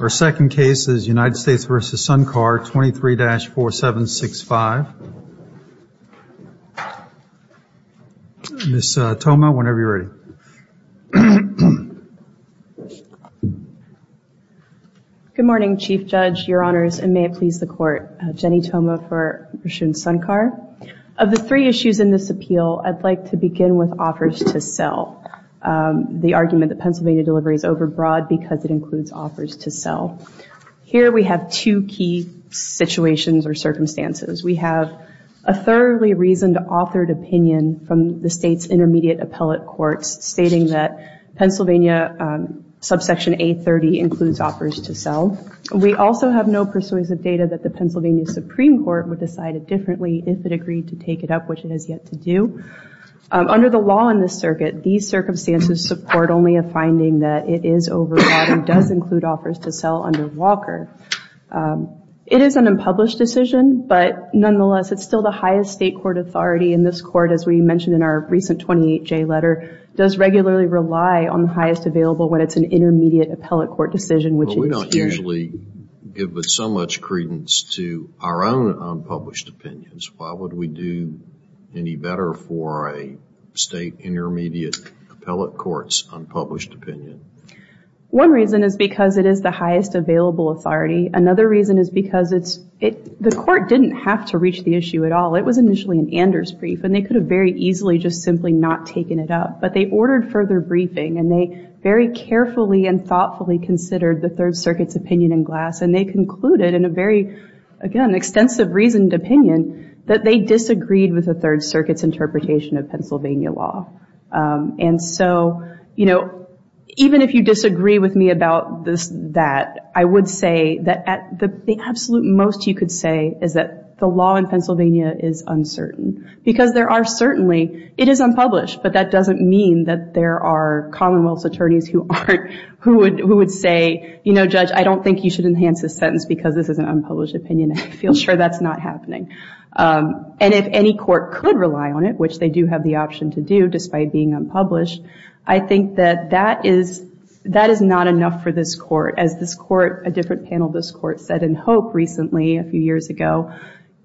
Our second case is United States v. Suncar 23-4765, Ms. Thoma, whenever you're ready. Good morning, Chief Judge, your Honors, and may it please the Court. Jennie Thoma for Rashun Suncar. Of the three issues in this appeal, I'd like to begin with offers to sell. The argument that Pennsylvania delivery is overbroad because it includes offers to sell. Here we have two key situations or circumstances. We have a thoroughly reasoned authored opinion from the state's intermediate appellate courts stating that Pennsylvania subsection 830 includes offers to sell. We also have no persuasive data that the Pennsylvania Supreme Court would decide it differently if it agreed to take it up, which it has yet to do. Under the law in the circuit, these circumstances support only a finding that it is overbroad and does include offers to sell under Walker. It is an unpublished decision, but nonetheless, it's still the highest state court authority, and this court, as we mentioned in our recent 28-J letter, does regularly rely on the highest available when it's an intermediate appellate court decision, which is here. We don't usually give so much credence to our own unpublished opinions. Why would we do any better for a state intermediate appellate court's unpublished opinion? One reason is because it is the highest available authority. Another reason is because the court didn't have to reach the issue at all. It was initially an Anders brief, and they could have very easily just simply not taken it up, but they ordered further briefing, and they very carefully and thoughtfully considered the Third Circuit's opinion in glass, and they concluded in a very, again, extensive reasoned opinion that they disagreed with the Third Circuit's interpretation of Pennsylvania law. And so, you know, even if you disagree with me about that, I would say that the absolute most you could say is that the law in Pennsylvania is uncertain, because there are certainly, it is unpublished, but that doesn't mean that there are Commonwealth's attorneys who aren't, who would say, you know, Judge, I don't think you should enhance this sentence because this is an unpublished opinion. I feel sure that's not happening. And if any court could rely on it, which they do have the option to do despite being unpublished, I think that that is, that is not enough for this court. As this court, a different panel of this court said in Hope recently a few years ago,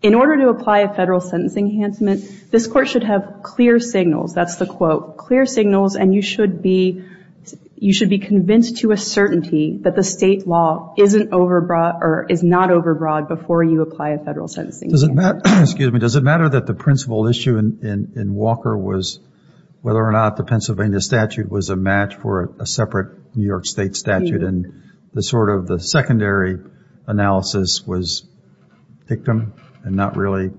in order to apply a federal sentence enhancement, this court should have clear signals. That's the quote. Clear signals, and you should be, you should be convinced to a certainty that the state law isn't overbroad, or is not overbroad before you apply a federal sentence enhancement. Does it matter, excuse me, does it matter that the principal issue in Walker was whether or not the Pennsylvania statute was a match for a separate New York State statute, and the sort of the secondary analysis was victim and not really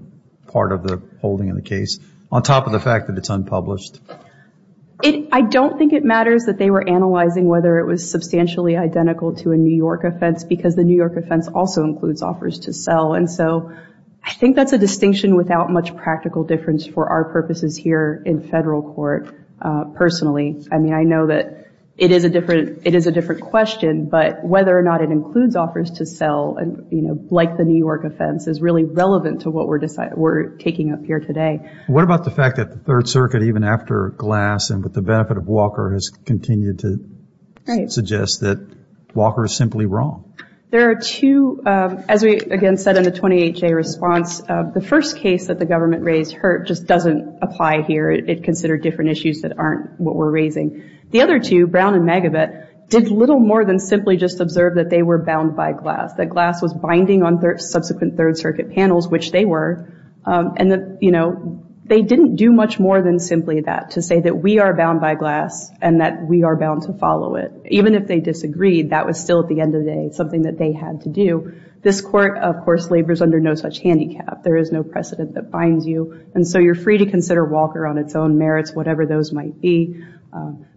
part of the holding of the case, on top of the fact that it's unpublished? I don't think it matters that they were analyzing whether it was substantially identical to a New York offense, because the New York offense also includes offers to sell, and so I think that's a distinction without much practical difference for our purposes here in federal court, personally. I mean, I know that it is a different, it is a different question, but whether or not it includes offers to sell, and you know, like the New York offense, is really relevant to what we're deciding, we're taking up here today. What about the fact that the Third Circuit, even after Glass, and with the benefit of Walker, has continued to suggest that Walker is simply wrong? There are two, as we again said in the 28-day response, the first case that the government raised, Hurt, just doesn't apply here, it considered different issues that aren't what we're raising. The other two, Brown and Megibet, did little more than simply just observe that they were bound by Glass, that Glass was binding on subsequent Third Circuit panels, which they were, and that, you know, they didn't do much more than simply that, to say that we are bound by Glass, and that we are bound to follow it. Even if they disagreed, that was still, at the end of the day, something that they had to do. This court, of course, labors under no such handicap, there is no precedent that binds you, and so you're free to consider Walker on its own merits, whatever those might be,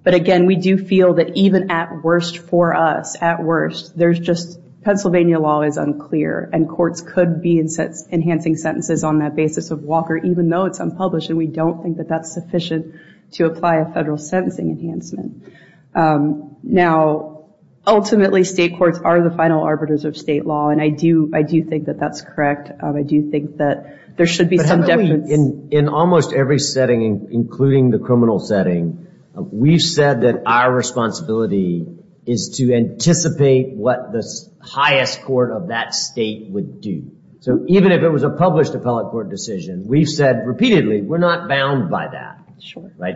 but again, we do feel that even at worst for us, at worst, there's just, Pennsylvania law is unclear, and courts could be enhancing sentences on that basis of Walker, even though it's unpublished, and we don't think that that's sufficient to apply a federal sentencing enhancement. Now, ultimately, state courts are the final arbiters of state law, and I do, I do think that that's correct, I do think that there should be some definition. In almost every setting, including the criminal setting, we've said that our responsibility is to anticipate what the highest court of that state would do. So, even if it was a published appellate court decision, we've said repeatedly, we're not bound by that.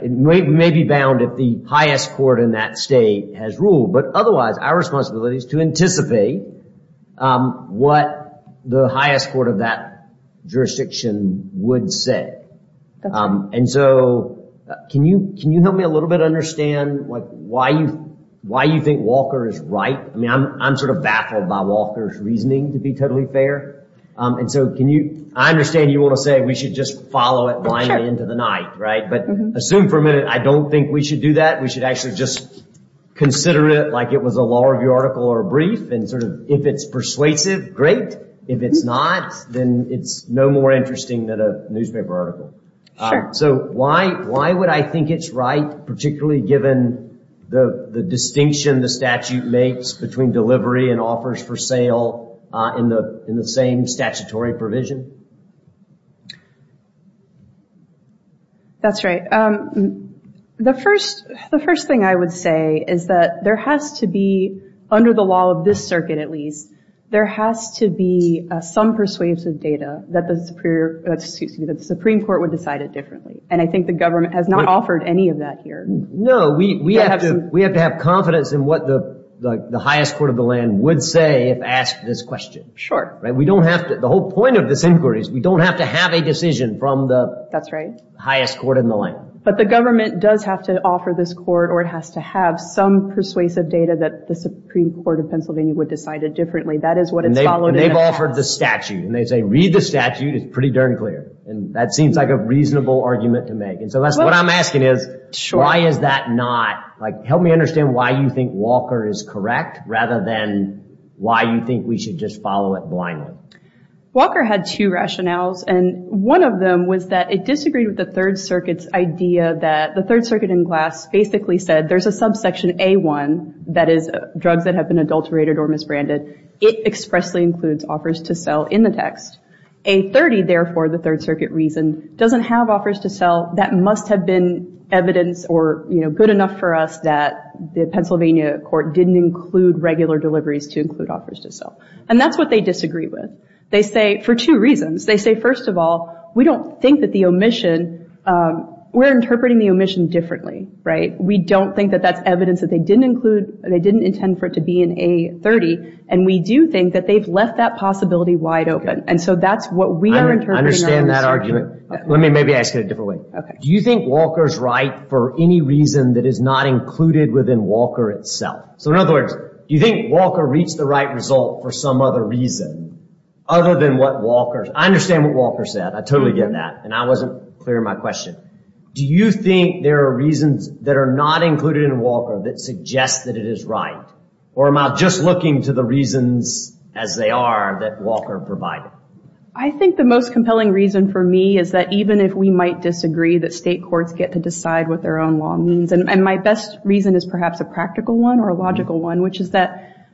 It may be bound if the highest court in that state has ruled, but otherwise, our responsibility is to anticipate what the highest court of that jurisdiction would say. And so, can you help me a little bit understand why you think Walker is right? I mean, I'm sort of baffled by Walker's reasoning, to be totally fair. And so, can you, I understand you want to say we should just follow it blindly into the night, right? But assume for a minute, I don't think we should do that, we should actually just consider it like it was a law review article or a brief, and sort of, if it's persuasive, great. If it's not, then it's no more interesting than a newspaper article. So, why would I think it's right, particularly given the distinction the statute makes between delivery and offers for sale in the same statutory provision? That's right. The first thing I would say is that there has to be, under the law of this circuit at least, there has to be some persuasive data that the Supreme Court would decide it differently. And I think the government has not offered any of that here. No, we have to have confidence in what the highest court of the land would say if asked this question. Right? We don't have to, the whole point of this inquiry is we don't have to have a decision from the highest court in the land. But the government does have to offer this court, or it has to have some persuasive data that the Supreme Court of Pennsylvania would decide it differently. That is what it's followed in the past. And they've offered the statute, and they say, read the statute, it's pretty darn clear. And that seems like a reasonable argument to make. And so, that's what I'm asking is, why is that not, like, help me understand why you think Walker is correct, rather than why you think we should just follow it blindly. Walker had two rationales, and one of them was that it disagreed with the Third Circuit's idea that, the Third Circuit in glass basically said, there's a subsection A-1, that is, drugs that have been adulterated or misbranded, it expressly includes offers to sell in the text. A-30, therefore, the Third Circuit reasoned, doesn't have offers to sell, that must have been evidence or, you know, good enough for us that the Pennsylvania court didn't include regular deliveries to include offers to sell. And that's what they disagree with. They say, for two reasons, they say, first of all, we don't think that the omission, we're interpreting the omission differently. Right? We don't think that that's evidence that they didn't include, they didn't intend for it to be in A-30. And we do think that they've left that possibility wide open. And so, that's what we are interpreting. I understand that argument. Let me maybe ask it a different way. Do you think Walker's right for any reason that is not included within Walker itself? So, in other words, do you think Walker reached the right result for some other reason, other than what Walker's, I understand what Walker said. I totally get that. And I wasn't clear in my question. Do you think there are reasons that are not included in Walker that suggest that it is right? Or am I just looking to the reasons as they are that Walker provided? I think the most compelling reason for me is that even if we might disagree, that state courts get to decide what their own law means. And my best reason is perhaps a practical one or a logical one, which is that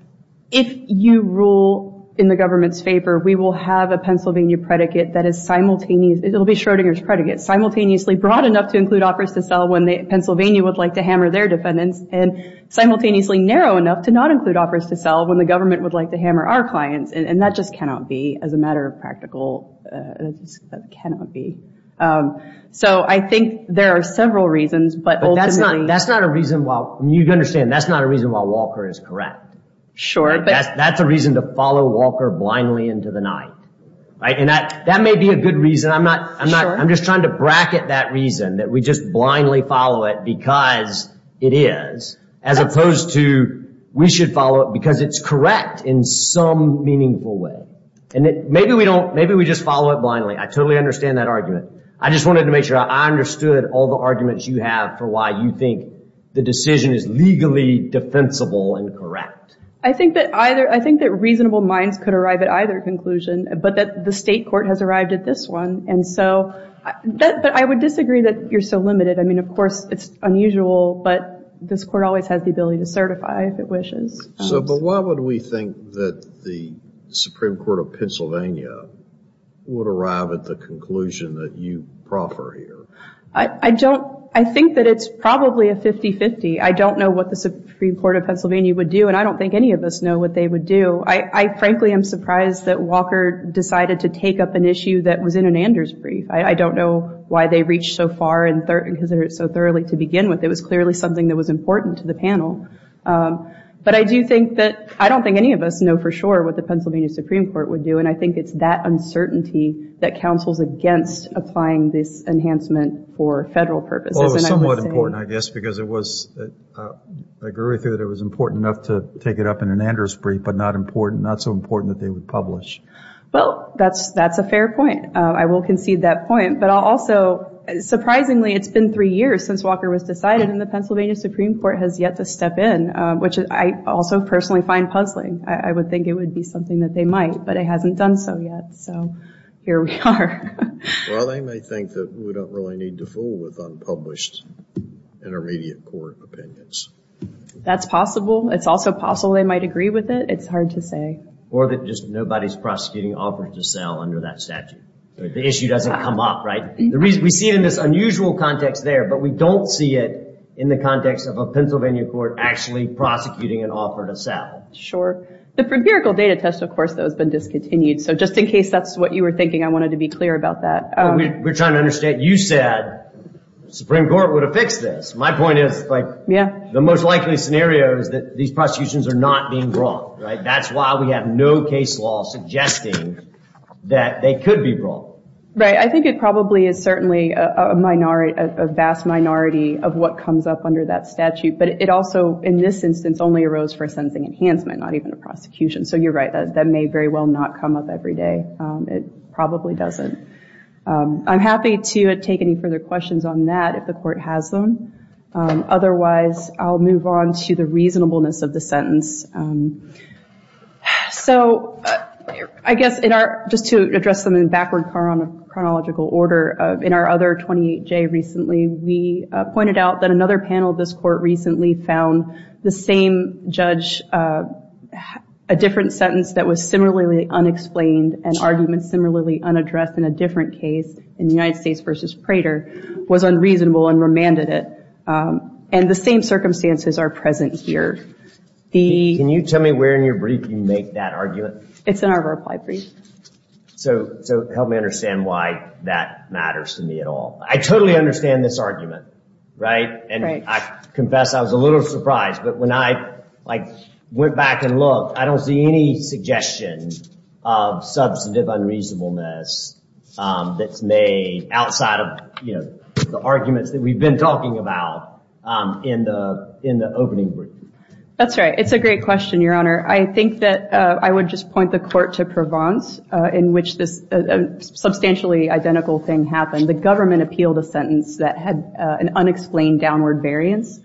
if you rule in the government's favor, we will have a Pennsylvania predicate that is simultaneous. It will be Schrodinger's predicate. Simultaneously broad enough to include offers to sell when Pennsylvania would like to hammer their defendants. And simultaneously narrow enough to not include offers to sell when the government would like to hammer our clients. And that just cannot be, as a matter of practical, that cannot be. So, I think there are several reasons. But that's not a reason while, you understand, that's not a reason why Walker is correct. That's a reason to follow Walker blindly into the night. And that may be a good reason. I'm just trying to bracket that reason that we just blindly follow it because it is, as opposed to we should follow it because it's correct in some meaningful way. And maybe we just follow it blindly. I totally understand that argument. I just wanted to make sure I understood all the arguments you have for why you think the decision is legally defensible and correct. I think that either, I think that reasonable minds could arrive at either conclusion. But that the state court has arrived at this one. And so, but I would disagree that you're so limited. I mean, of course, it's unusual. But this court always has the ability to certify if it wishes. So, but why would we think that the Supreme Court of Pennsylvania would arrive at the conclusion that you proffer here? I don't, I think that it's probably a 50-50. I don't know what the Supreme Court of Pennsylvania would do. And I don't think any of us know what they would do. I frankly am surprised that Walker decided to take up an issue that was in an Anders brief. I don't know why they reached so far and so thoroughly to begin with. It was clearly something that was important to the panel. But I do think that, I don't think any of us know for sure what the Pennsylvania Supreme Court would do. And I think it's that uncertainty that counsels against applying this enhancement for federal purposes. Well, it was somewhat important, I guess, because it was, I agree with you that it was important enough to take it up in an Anders brief, but not important, not so important that they would publish. Well, that's a fair point. I will concede that point. But I'll also, surprisingly, it's been three years since Walker was decided, and the Pennsylvania Supreme Court has yet to step in, which I also personally find puzzling. I would think it would be something that they might, but it hasn't done so yet. So, here we are. Well, they may think that we don't really need to fool with unpublished intermediate court opinions. That's possible. It's also possible they might agree with it. It's hard to say. Or that just nobody's prosecuting an offer to sell under that statute. The issue doesn't come up, right? We see it in this unusual context there, but we don't see it in the context of a Pennsylvania court actually prosecuting an offer to sell. Sure. The empirical data test, of course, though, has been discontinued. So, just in case that's what you were thinking, I wanted to be clear about that. We're trying to understand. You said the Supreme Court would have fixed this. My point is the most likely scenario is that these prosecutions are not being brought, right? That's why we have no case law suggesting that they could be brought. Right. I think it probably is certainly a vast minority of what comes up under that statute. But it also, in this instance, only arose for a sentencing enhancement, not even a prosecution. So, you're right. That may very well not come up every day. It probably doesn't. I'm happy to take any further questions on that if the court has them. Otherwise, I'll move on to the reasonableness of the sentence. So, I guess just to address them in a backward chronological order, in our other 28J recently, we pointed out that another panel of this court recently found the same judge, a different sentence that was similarly unexplained, an argument similarly unaddressed in a different case, in United States v. Prater, was unreasonable and remanded it. And the same circumstances are present here. Can you tell me where in your brief you make that argument? It's in our reply brief. So, help me understand why that matters to me at all. I totally understand this argument, right? And I confess I was a little surprised. But when I went back and looked, I don't see any suggestion of substantive unreasonableness that's made outside of the arguments that we've been talking about in the opening brief. That's right. It's a great question, Your Honor. I think that I would just point the court to Provence, in which this substantially identical thing happened. The government appealed a sentence that had an unexplained downward variance.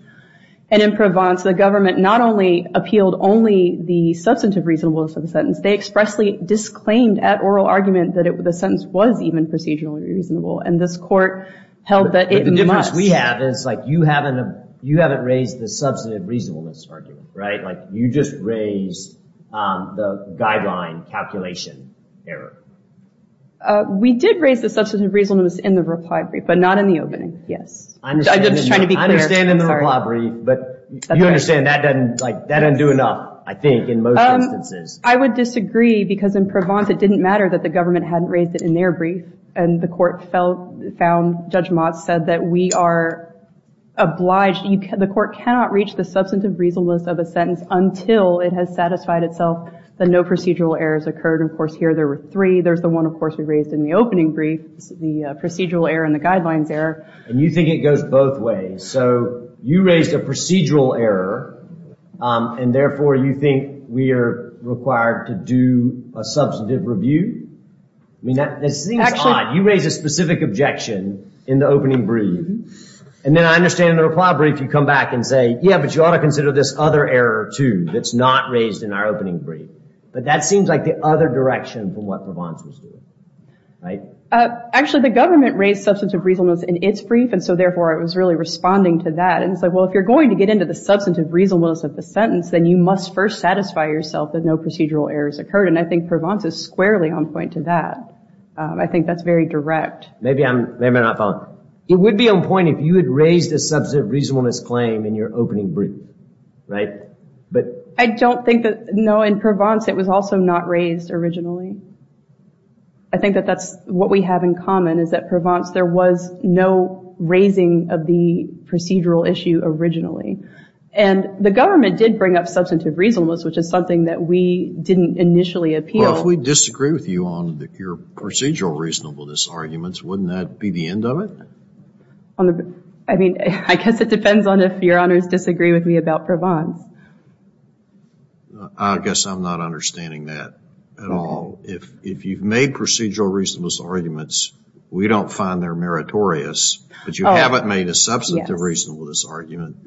And in Provence, the government not only appealed only the substantive reasonableness of the sentence, they expressly disclaimed at oral argument that the sentence was even procedurally reasonable. And this court held that it must. But the difference we have is, like, you haven't raised the substantive reasonableness argument, right? Like, you just raised the guideline calculation error. We did raise the substantive reasonableness in the reply brief, but not in the opening. Yes. I'm just trying to be clear. I understand in the reply brief, but you understand that doesn't, like, that doesn't do enough, I think, in most instances. I would disagree, because in Provence, it didn't matter that the government hadn't raised it in their brief. And the court found, Judge Motz said that we are obliged, the court cannot reach the substantive reasonableness of a sentence until it has satisfied itself that no procedural errors occurred. And of course, here, there were three. There's the one, of course, we raised in the opening brief, the procedural error and the guidelines error. And you think it goes both ways. So you raised a procedural error, and therefore, you think we are required to do a substantive review? I mean, that seems odd. You raised a specific objection in the opening brief. And then I understand in the reply brief, you come back and say, yeah, but you ought to consider this other error, too, that's not raised in our opening brief. But that seems like the other direction from what Provence was doing, right? Actually, the government raised substantive reasonableness in its brief, and so therefore, it was really responding to that. And it's like, well, if you're going to get into the substantive reasonableness of the sentence, then you must first satisfy yourself that no procedural errors occurred. And I think Provence is squarely on point to that. I think that's very direct. Maybe I'm not following. It would be on point if you had raised a substantive reasonableness claim in your opening brief, right? I don't think that, no, in Provence, it was also not raised originally. I think that that's what we have in common, is that Provence, there was no raising of the procedural issue originally. And the government did bring up substantive reasonableness, which is something that we didn't initially appeal. Well, if we disagree with you on your procedural reasonableness arguments, wouldn't that be the end of it? I mean, I guess it depends on if Your Honors disagree with me about Provence. I guess I'm not understanding that at all. If you've made procedural reasonableness arguments, we don't find they're meritorious, but you haven't made a substantive reasonableness argument,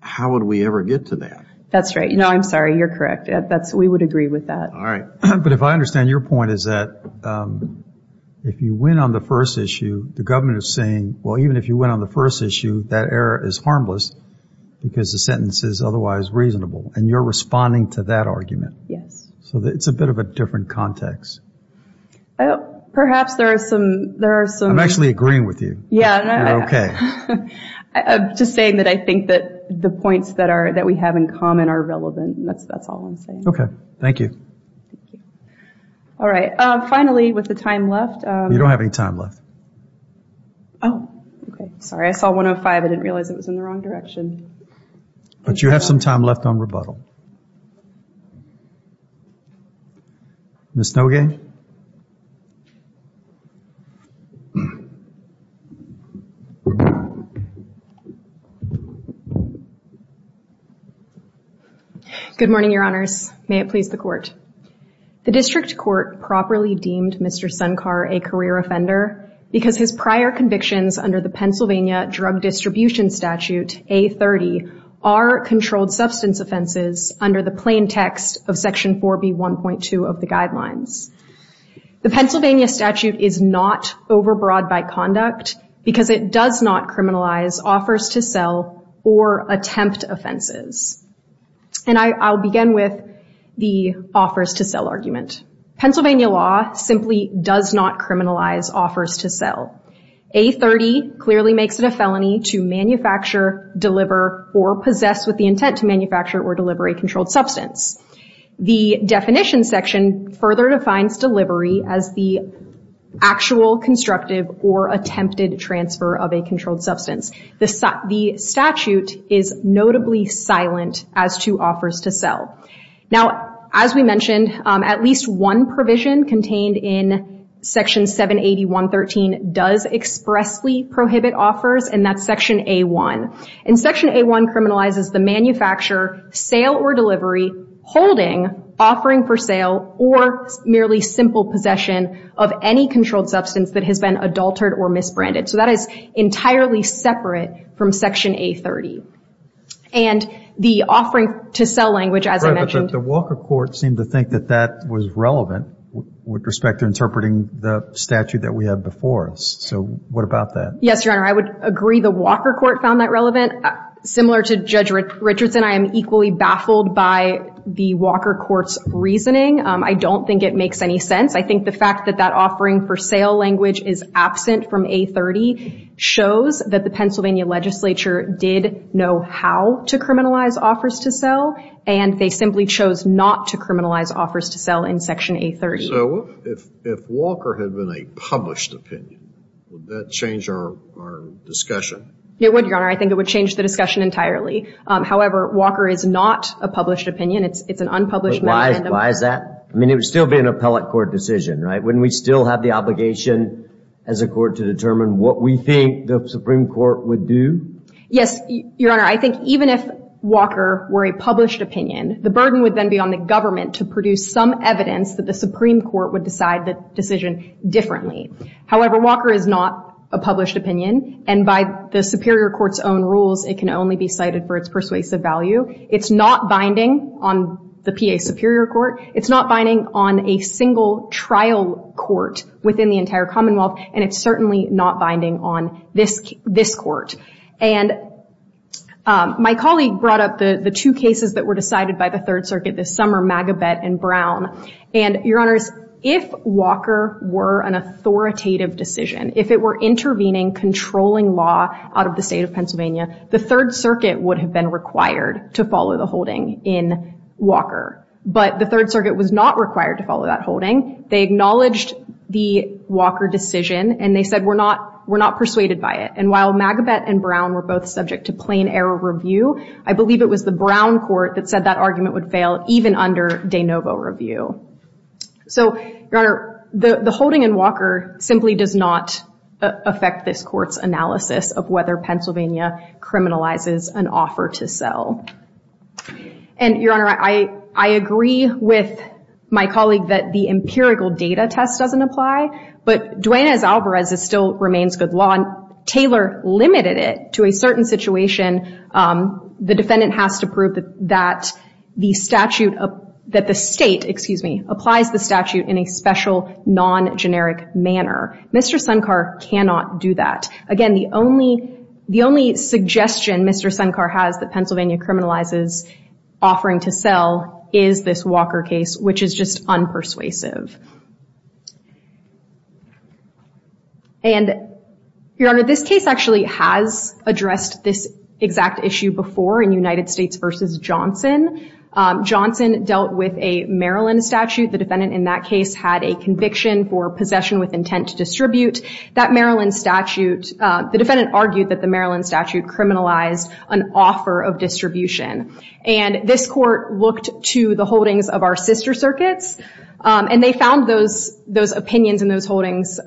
how would we ever get to that? That's right. No, I'm sorry. You're correct. We would agree with that. All right. But if I understand your point, is that if you win on the first issue, the government is saying, well, even if you win on the first issue, that error is harmless because the sentence is otherwise reasonable, and you're responding to that argument. Yes. So it's a bit of a different context. Perhaps there are some – I'm actually agreeing with you. Yeah. You're okay. I'm just saying that I think that the points that we have in common are relevant. That's all I'm saying. Okay. Thank you. All right. Finally, with the time left – You don't have any time left. Oh, okay. Sorry. I saw 105. I didn't realize it was in the wrong direction. But you have some time left on rebuttal. Ms. Nogay? Good morning, Your Honors. May it please the Court. The district court properly deemed Mr. Sunkar a career offender because his prior convictions under the Pennsylvania Drug Distribution Statute, A30, are controlled substance offenses under the plain text of Section 4B1.2 of the Guidelines. The Pennsylvania statute is not overbroad by conduct because it does not criminalize offers to sell or attempt offenses. And I'll begin with the offers to sell argument. Pennsylvania law simply does not criminalize offers to sell. A30 clearly makes it a felony to manufacture, deliver, or possess with the intent to manufacture or deliver a controlled substance. The definition section further defines delivery as the actual, constructive, or attempted transfer of a controlled substance. The statute is notably silent as to offers to sell. Now, as we mentioned, at least one provision contained in Section 780.113 does expressly prohibit offers, and that's Section A1. And Section A1 criminalizes the manufacture, sale, or delivery, holding, offering for sale, or merely simple possession of any controlled substance that has been adultered or misbranded. So that is entirely separate from Section A30. And the offering to sell language, as I mentioned. Right, but the Walker Court seemed to think that that was relevant with respect to interpreting the statute that we have before us. So what about that? Yes, Your Honor, I would agree the Walker Court found that relevant. Similar to Judge Richardson, I am equally baffled by the Walker Court's reasoning. I don't think it makes any sense. I think the fact that that offering for sale language is absent from A30 shows that the Pennsylvania legislature did know how to criminalize offers to sell, and they simply chose not to criminalize offers to sell in Section A30. So if Walker had been a published opinion, would that change our discussion? It would, Your Honor. I think it would change the discussion entirely. However, Walker is not a published opinion. It's an unpublished, non-candidate. But why is that? I mean, it would still be an appellate court decision, right? Wouldn't we still have the obligation as a court to determine what we think the Supreme Court would do? Yes, Your Honor. I think even if Walker were a published opinion, the burden would then be on the government to produce some evidence that the Supreme Court would decide the decision differently. However, Walker is not a published opinion, and by the Superior Court's own rules it can only be cited for its persuasive value. It's not binding on the PA Superior Court. It's not binding on a single trial court within the entire Commonwealth, and it's certainly not binding on this court. And my colleague brought up the two cases that were decided by the Third Circuit this summer, Magabet and Brown. And, Your Honors, if Walker were an authoritative decision, if it were intervening, controlling law out of the state of Pennsylvania, the Third Circuit would have been required to follow the holding in Walker. But the Third Circuit was not required to follow that holding. They acknowledged the Walker decision, and they said, we're not persuaded by it. And while Magabet and Brown were both subject to plain error review, I believe it was the Brown court that said that argument would fail even under de novo review. So, Your Honor, the holding in Walker simply does not affect this court's analysis of whether Pennsylvania criminalizes an offer to sell. And, Your Honor, I agree with my colleague that the empirical data test doesn't apply, but Duane S. Alvarez's still remains good law, and Taylor limited it to a certain situation. The defendant has to prove that the statute, that the state, excuse me, applies the statute in a special, non-generic manner. Mr. Sunkar cannot do that. Again, the only suggestion Mr. Sunkar has that Pennsylvania criminalizes offering to sell is this Walker case, which is just unpersuasive. And, Your Honor, this case actually has addressed this exact issue before in United States v. Johnson. Johnson dealt with a Maryland statute. The defendant in that case had a conviction for possession with intent to distribute. That Maryland statute, the defendant argued that the Maryland statute criminalized an offer of distribution. And this court looked to the holdings of our sister circuits, and they found those opinions in those holdings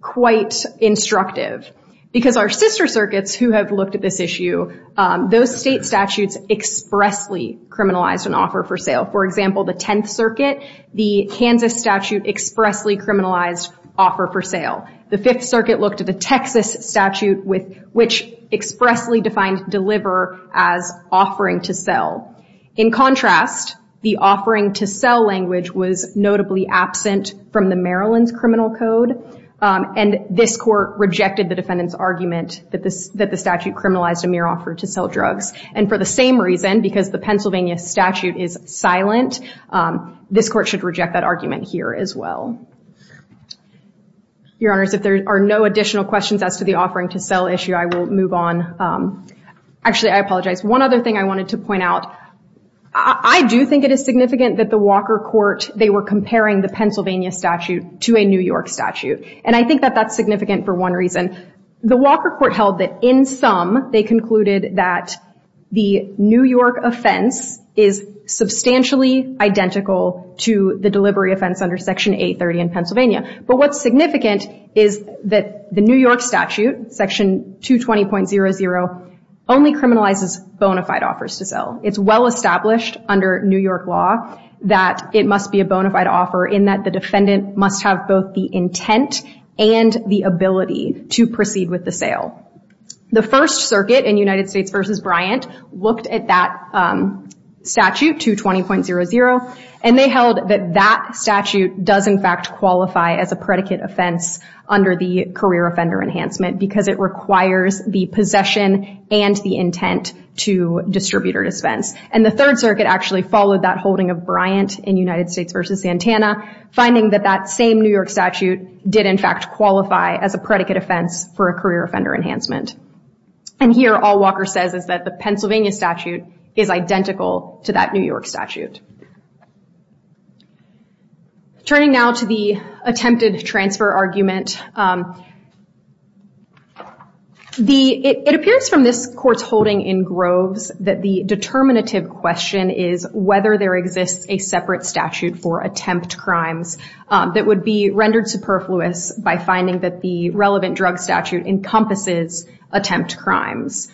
quite instructive because our sister circuits who have looked at this issue, those state statutes expressly criminalized an offer for sale. For example, the Tenth Circuit, the Kansas statute expressly criminalized offer for sale. The Fifth Circuit looked at the Texas statute, which expressly defined deliver as offering to sell. In contrast, the offering to sell language was notably absent from the Maryland's criminal code, and this court rejected the defendant's argument that the statute criminalized a mere offer to sell drugs. And for the same reason, because the Pennsylvania statute is silent, this court should reject that argument here as well. Your Honors, if there are no additional questions as to the offering to sell issue, I will move on. Actually, I apologize. One other thing I wanted to point out, I do think it is significant that the Walker Court, they were comparing the Pennsylvania statute to a New York statute. And I think that that's significant for one reason. The Walker Court held that in sum they concluded that the New York offense is substantially identical to the delivery offense under Section 830 in Pennsylvania. But what's significant is that the New York statute, Section 220.00, only criminalizes bona fide offers to sell. It's well established under New York law that it must be a bona fide offer in that the defendant must have both the intent and the ability to proceed with the sale. The First Circuit in United States v. Bryant looked at that statute, 220.00, and they held that that statute does in fact qualify as a predicate offense under the career offender enhancement because it requires the possession and the intent to distribute or dispense. And the Third Circuit actually followed that holding of Bryant in United States v. Santana, finding that that same New York statute did in fact qualify as a predicate offense for a career offender enhancement. And here all Walker says is that the Pennsylvania statute is identical to that New York statute. Turning now to the attempted transfer argument, it appears from this court's holding in Groves that the determinative question is whether there exists a separate statute for attempt crimes that would be rendered superfluous by finding that the relevant drug statute encompasses attempt crimes.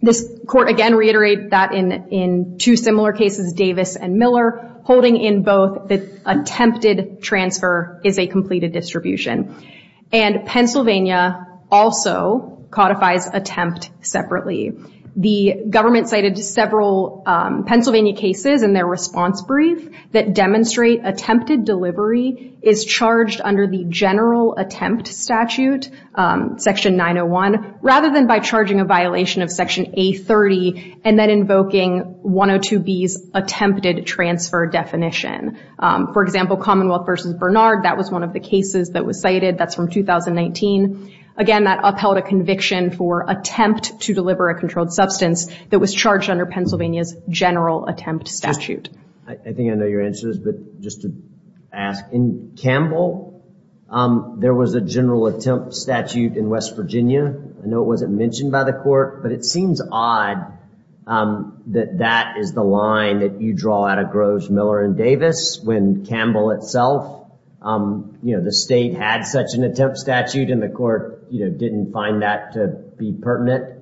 This court again reiterated that in two similar cases, Davis and Miller, holding in both the attempted transfer is a completed distribution. And Pennsylvania also codifies attempt separately. The government cited several Pennsylvania cases in their response brief that demonstrate attempted delivery is charged under the general attempt statute, Section 901, rather than by charging a violation of Section A30 and then invoking 102B's attempted transfer definition. For example, Commonwealth v. Bernard, that was one of the cases that was cited. That's from 2019. Again, that upheld a conviction for attempt to deliver a controlled substance that was charged under Pennsylvania's general attempt statute. I think I know your answers, but just to ask, in Campbell, there was a general attempt statute in West Virginia. I know it wasn't mentioned by the court, but it seems odd that that is the line that you draw out of Groves, Miller, and Davis when Campbell itself, you know, the state had such an attempt statute and the court, you know, didn't find that to be pertinent.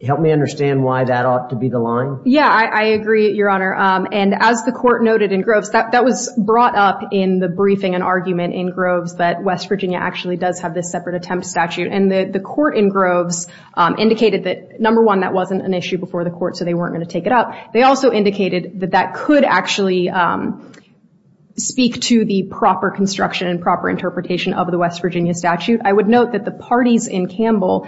Help me understand why that ought to be the line. Yeah, I agree, Your Honor. And as the court noted in Groves, that was brought up in the briefing and argument in Groves that West Virginia actually does have this separate attempt statute. And the court in Groves indicated that, number one, that wasn't an issue before the court, so they weren't going to take it up. They also indicated that that could actually speak to the proper construction and proper interpretation of the West Virginia statute. I would note that the parties in Campbell,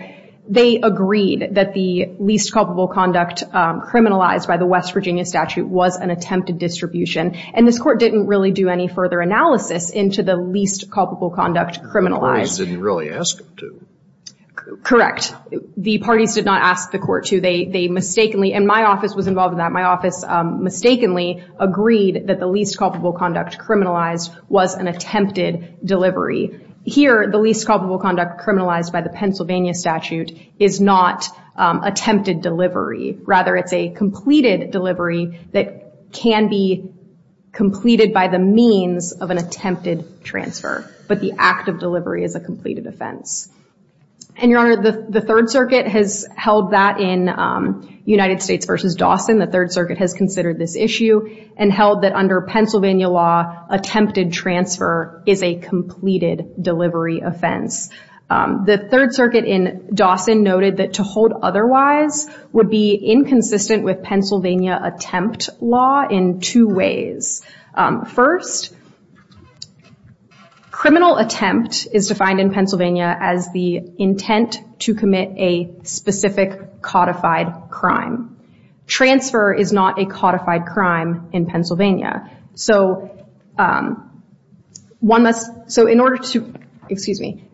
they agreed that the least culpable conduct criminalized by the West Virginia statute was an attempted distribution. And this court didn't really do any further analysis into the least culpable conduct criminalized. The parties didn't really ask them to. Correct. The parties did not ask the court to. They mistakenly, and my office was involved in that. My office mistakenly agreed that the least culpable conduct criminalized was an attempted delivery. Here, the least culpable conduct criminalized by the Pennsylvania statute is not attempted delivery. Rather, it's a completed delivery that can be completed by the means of an attempted transfer. But the act of delivery is a completed offense. And, Your Honor, the Third Circuit has held that in United States v. Dawson. The Third Circuit has considered this issue and held that under Pennsylvania law, attempted transfer is a completed delivery offense. The Third Circuit in Dawson noted that to hold otherwise would be inconsistent with Pennsylvania attempt law in two ways. First, criminal attempt is defined in Pennsylvania as the intent to commit a specific codified crime. Transfer is not a codified crime in Pennsylvania. So one must, so in order to, excuse me,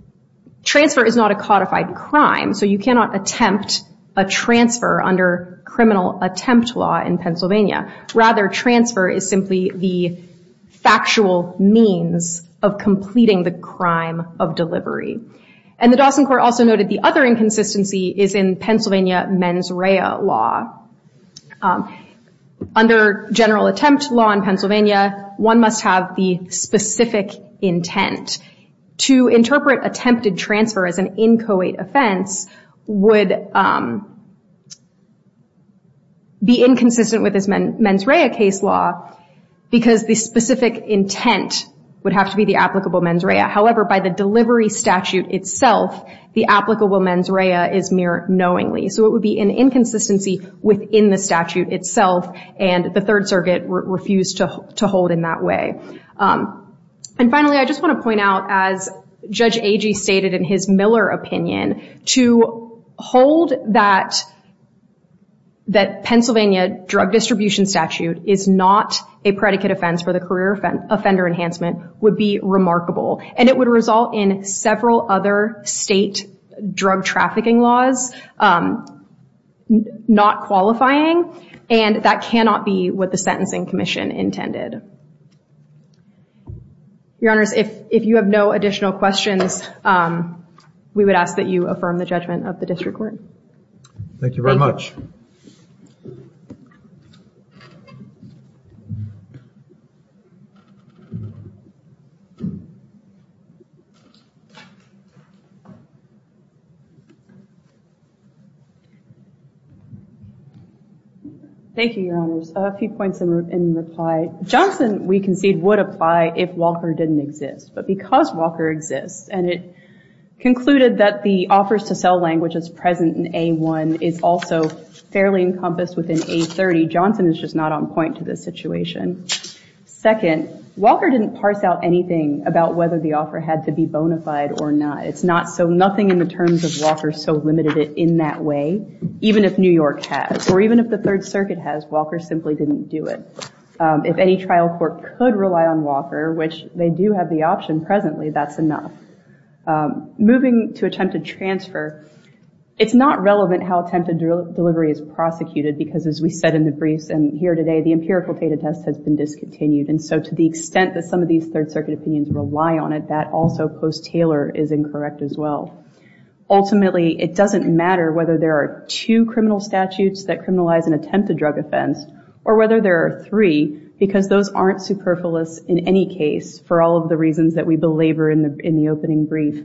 transfer is not a codified crime. So you cannot attempt a transfer under criminal attempt law in Pennsylvania. Rather, transfer is simply the factual means of completing the crime of delivery. And the Dawson Court also noted the other inconsistency is in Pennsylvania mens rea law. Under general attempt law in Pennsylvania, one must have the specific intent. To interpret attempted transfer as an inchoate offense would be inconsistent with this mens rea case law because the specific intent would have to be the applicable mens rea. However, by the delivery statute itself, the applicable mens rea is mere knowingly. So it would be an inconsistency within the statute itself. And the Third Circuit refused to hold in that way. And finally, I just want to point out, as Judge Agee stated in his Miller opinion, to hold that Pennsylvania drug distribution statute is not a predicate offense for the career offender enhancement would be remarkable. And it would result in several other state drug trafficking laws not qualifying. And that cannot be what the Sentencing Commission intended. Your Honors, if you have no additional questions, we would ask that you affirm the judgment of the district court. Thank you very much. Thank you, Your Honors. A few points in reply. Johnson, we concede, would apply if Walker didn't exist. But because Walker exists, and it concluded that the offers to sell language as present in A1 is also fairly encompassed within A30, Johnson is just not on point to this situation. Second, Walker didn't parse out anything about whether the offer had to be bona fide or not. It's not. So nothing in the terms of Walker so limited it in that way. Even if New York has, or even if the Third Circuit has, Walker simply didn't do it. If any trial court could rely on Walker, which they do have the option presently, that's enough. Moving to attempted transfer, it's not relevant how attempted delivery is prosecuted, because as we said in the briefs and here today, the empirical data test has been discontinued. And so to the extent that some of these Third Circuit opinions rely on it, that also post-Taylor is incorrect as well. Ultimately, it doesn't matter whether there are two criminal statutes that criminalize an attempted drug offense, or whether there are three, because those aren't superfluous in any case for all of the reasons that we belabor in the opening brief.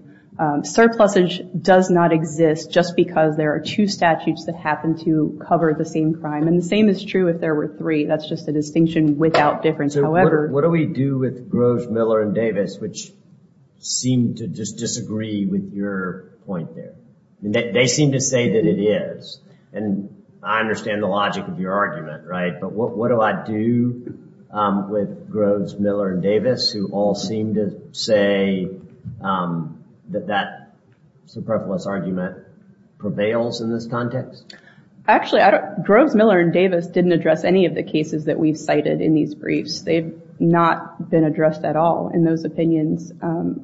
Surplusage does not exist just because there are two statutes that happen to cover the same crime. And the same is true if there were three. That's just a distinction without difference. So what do we do with Groves, Miller, and Davis, which seem to just disagree with your point there? They seem to say that it is, and I understand the logic of your argument, right? But what do I do with Groves, Miller, and Davis, who all seem to say that that superfluous argument prevails in this context? Actually, Groves, Miller, and Davis didn't address any of the cases that we've cited in these briefs. They've not been addressed at all in those opinions.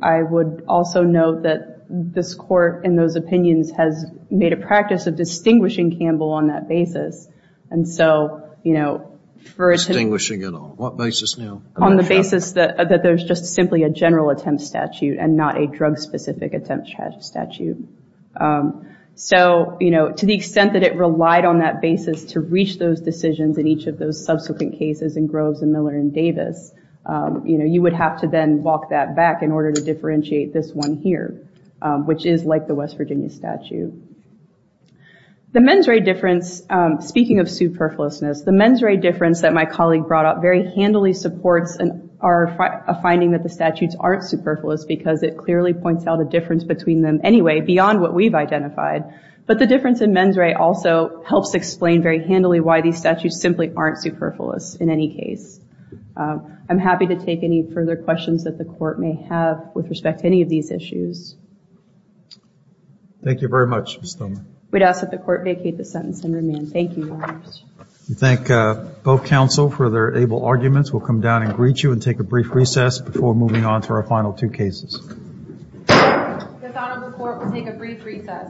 I would also note that this Court, in those opinions, has made a practice of distinguishing Campbell on that basis. And so, you know, for a time— Distinguishing at all. What basis now? On the basis that there's just simply a general attempt statute and not a drug-specific attempt statute. So, you know, to the extent that it relied on that basis to reach those decisions in each of those subsequent cases in Groves, Miller, and Davis, you would have to then walk that back in order to differentiate this one here, which is like the West Virginia statute. The mens rea difference, speaking of superfluousness, the mens rea difference that my colleague brought up very handily supports a finding that the statutes aren't superfluous because it clearly points out a difference between them anyway, beyond what we've identified. But the difference in mens rea also helps explain very handily why these statutes simply aren't superfluous in any case. I'm happy to take any further questions that the Court may have with respect to any of these issues. Thank you very much, Ms. Thurman. We'd ask that the Court vacate the sentence and remand. Thank you, Your Honors. We thank both counsel for their able arguments. We'll come down and greet you and take a brief recess before moving on to our final two cases. This Honorable Court will take a brief recess.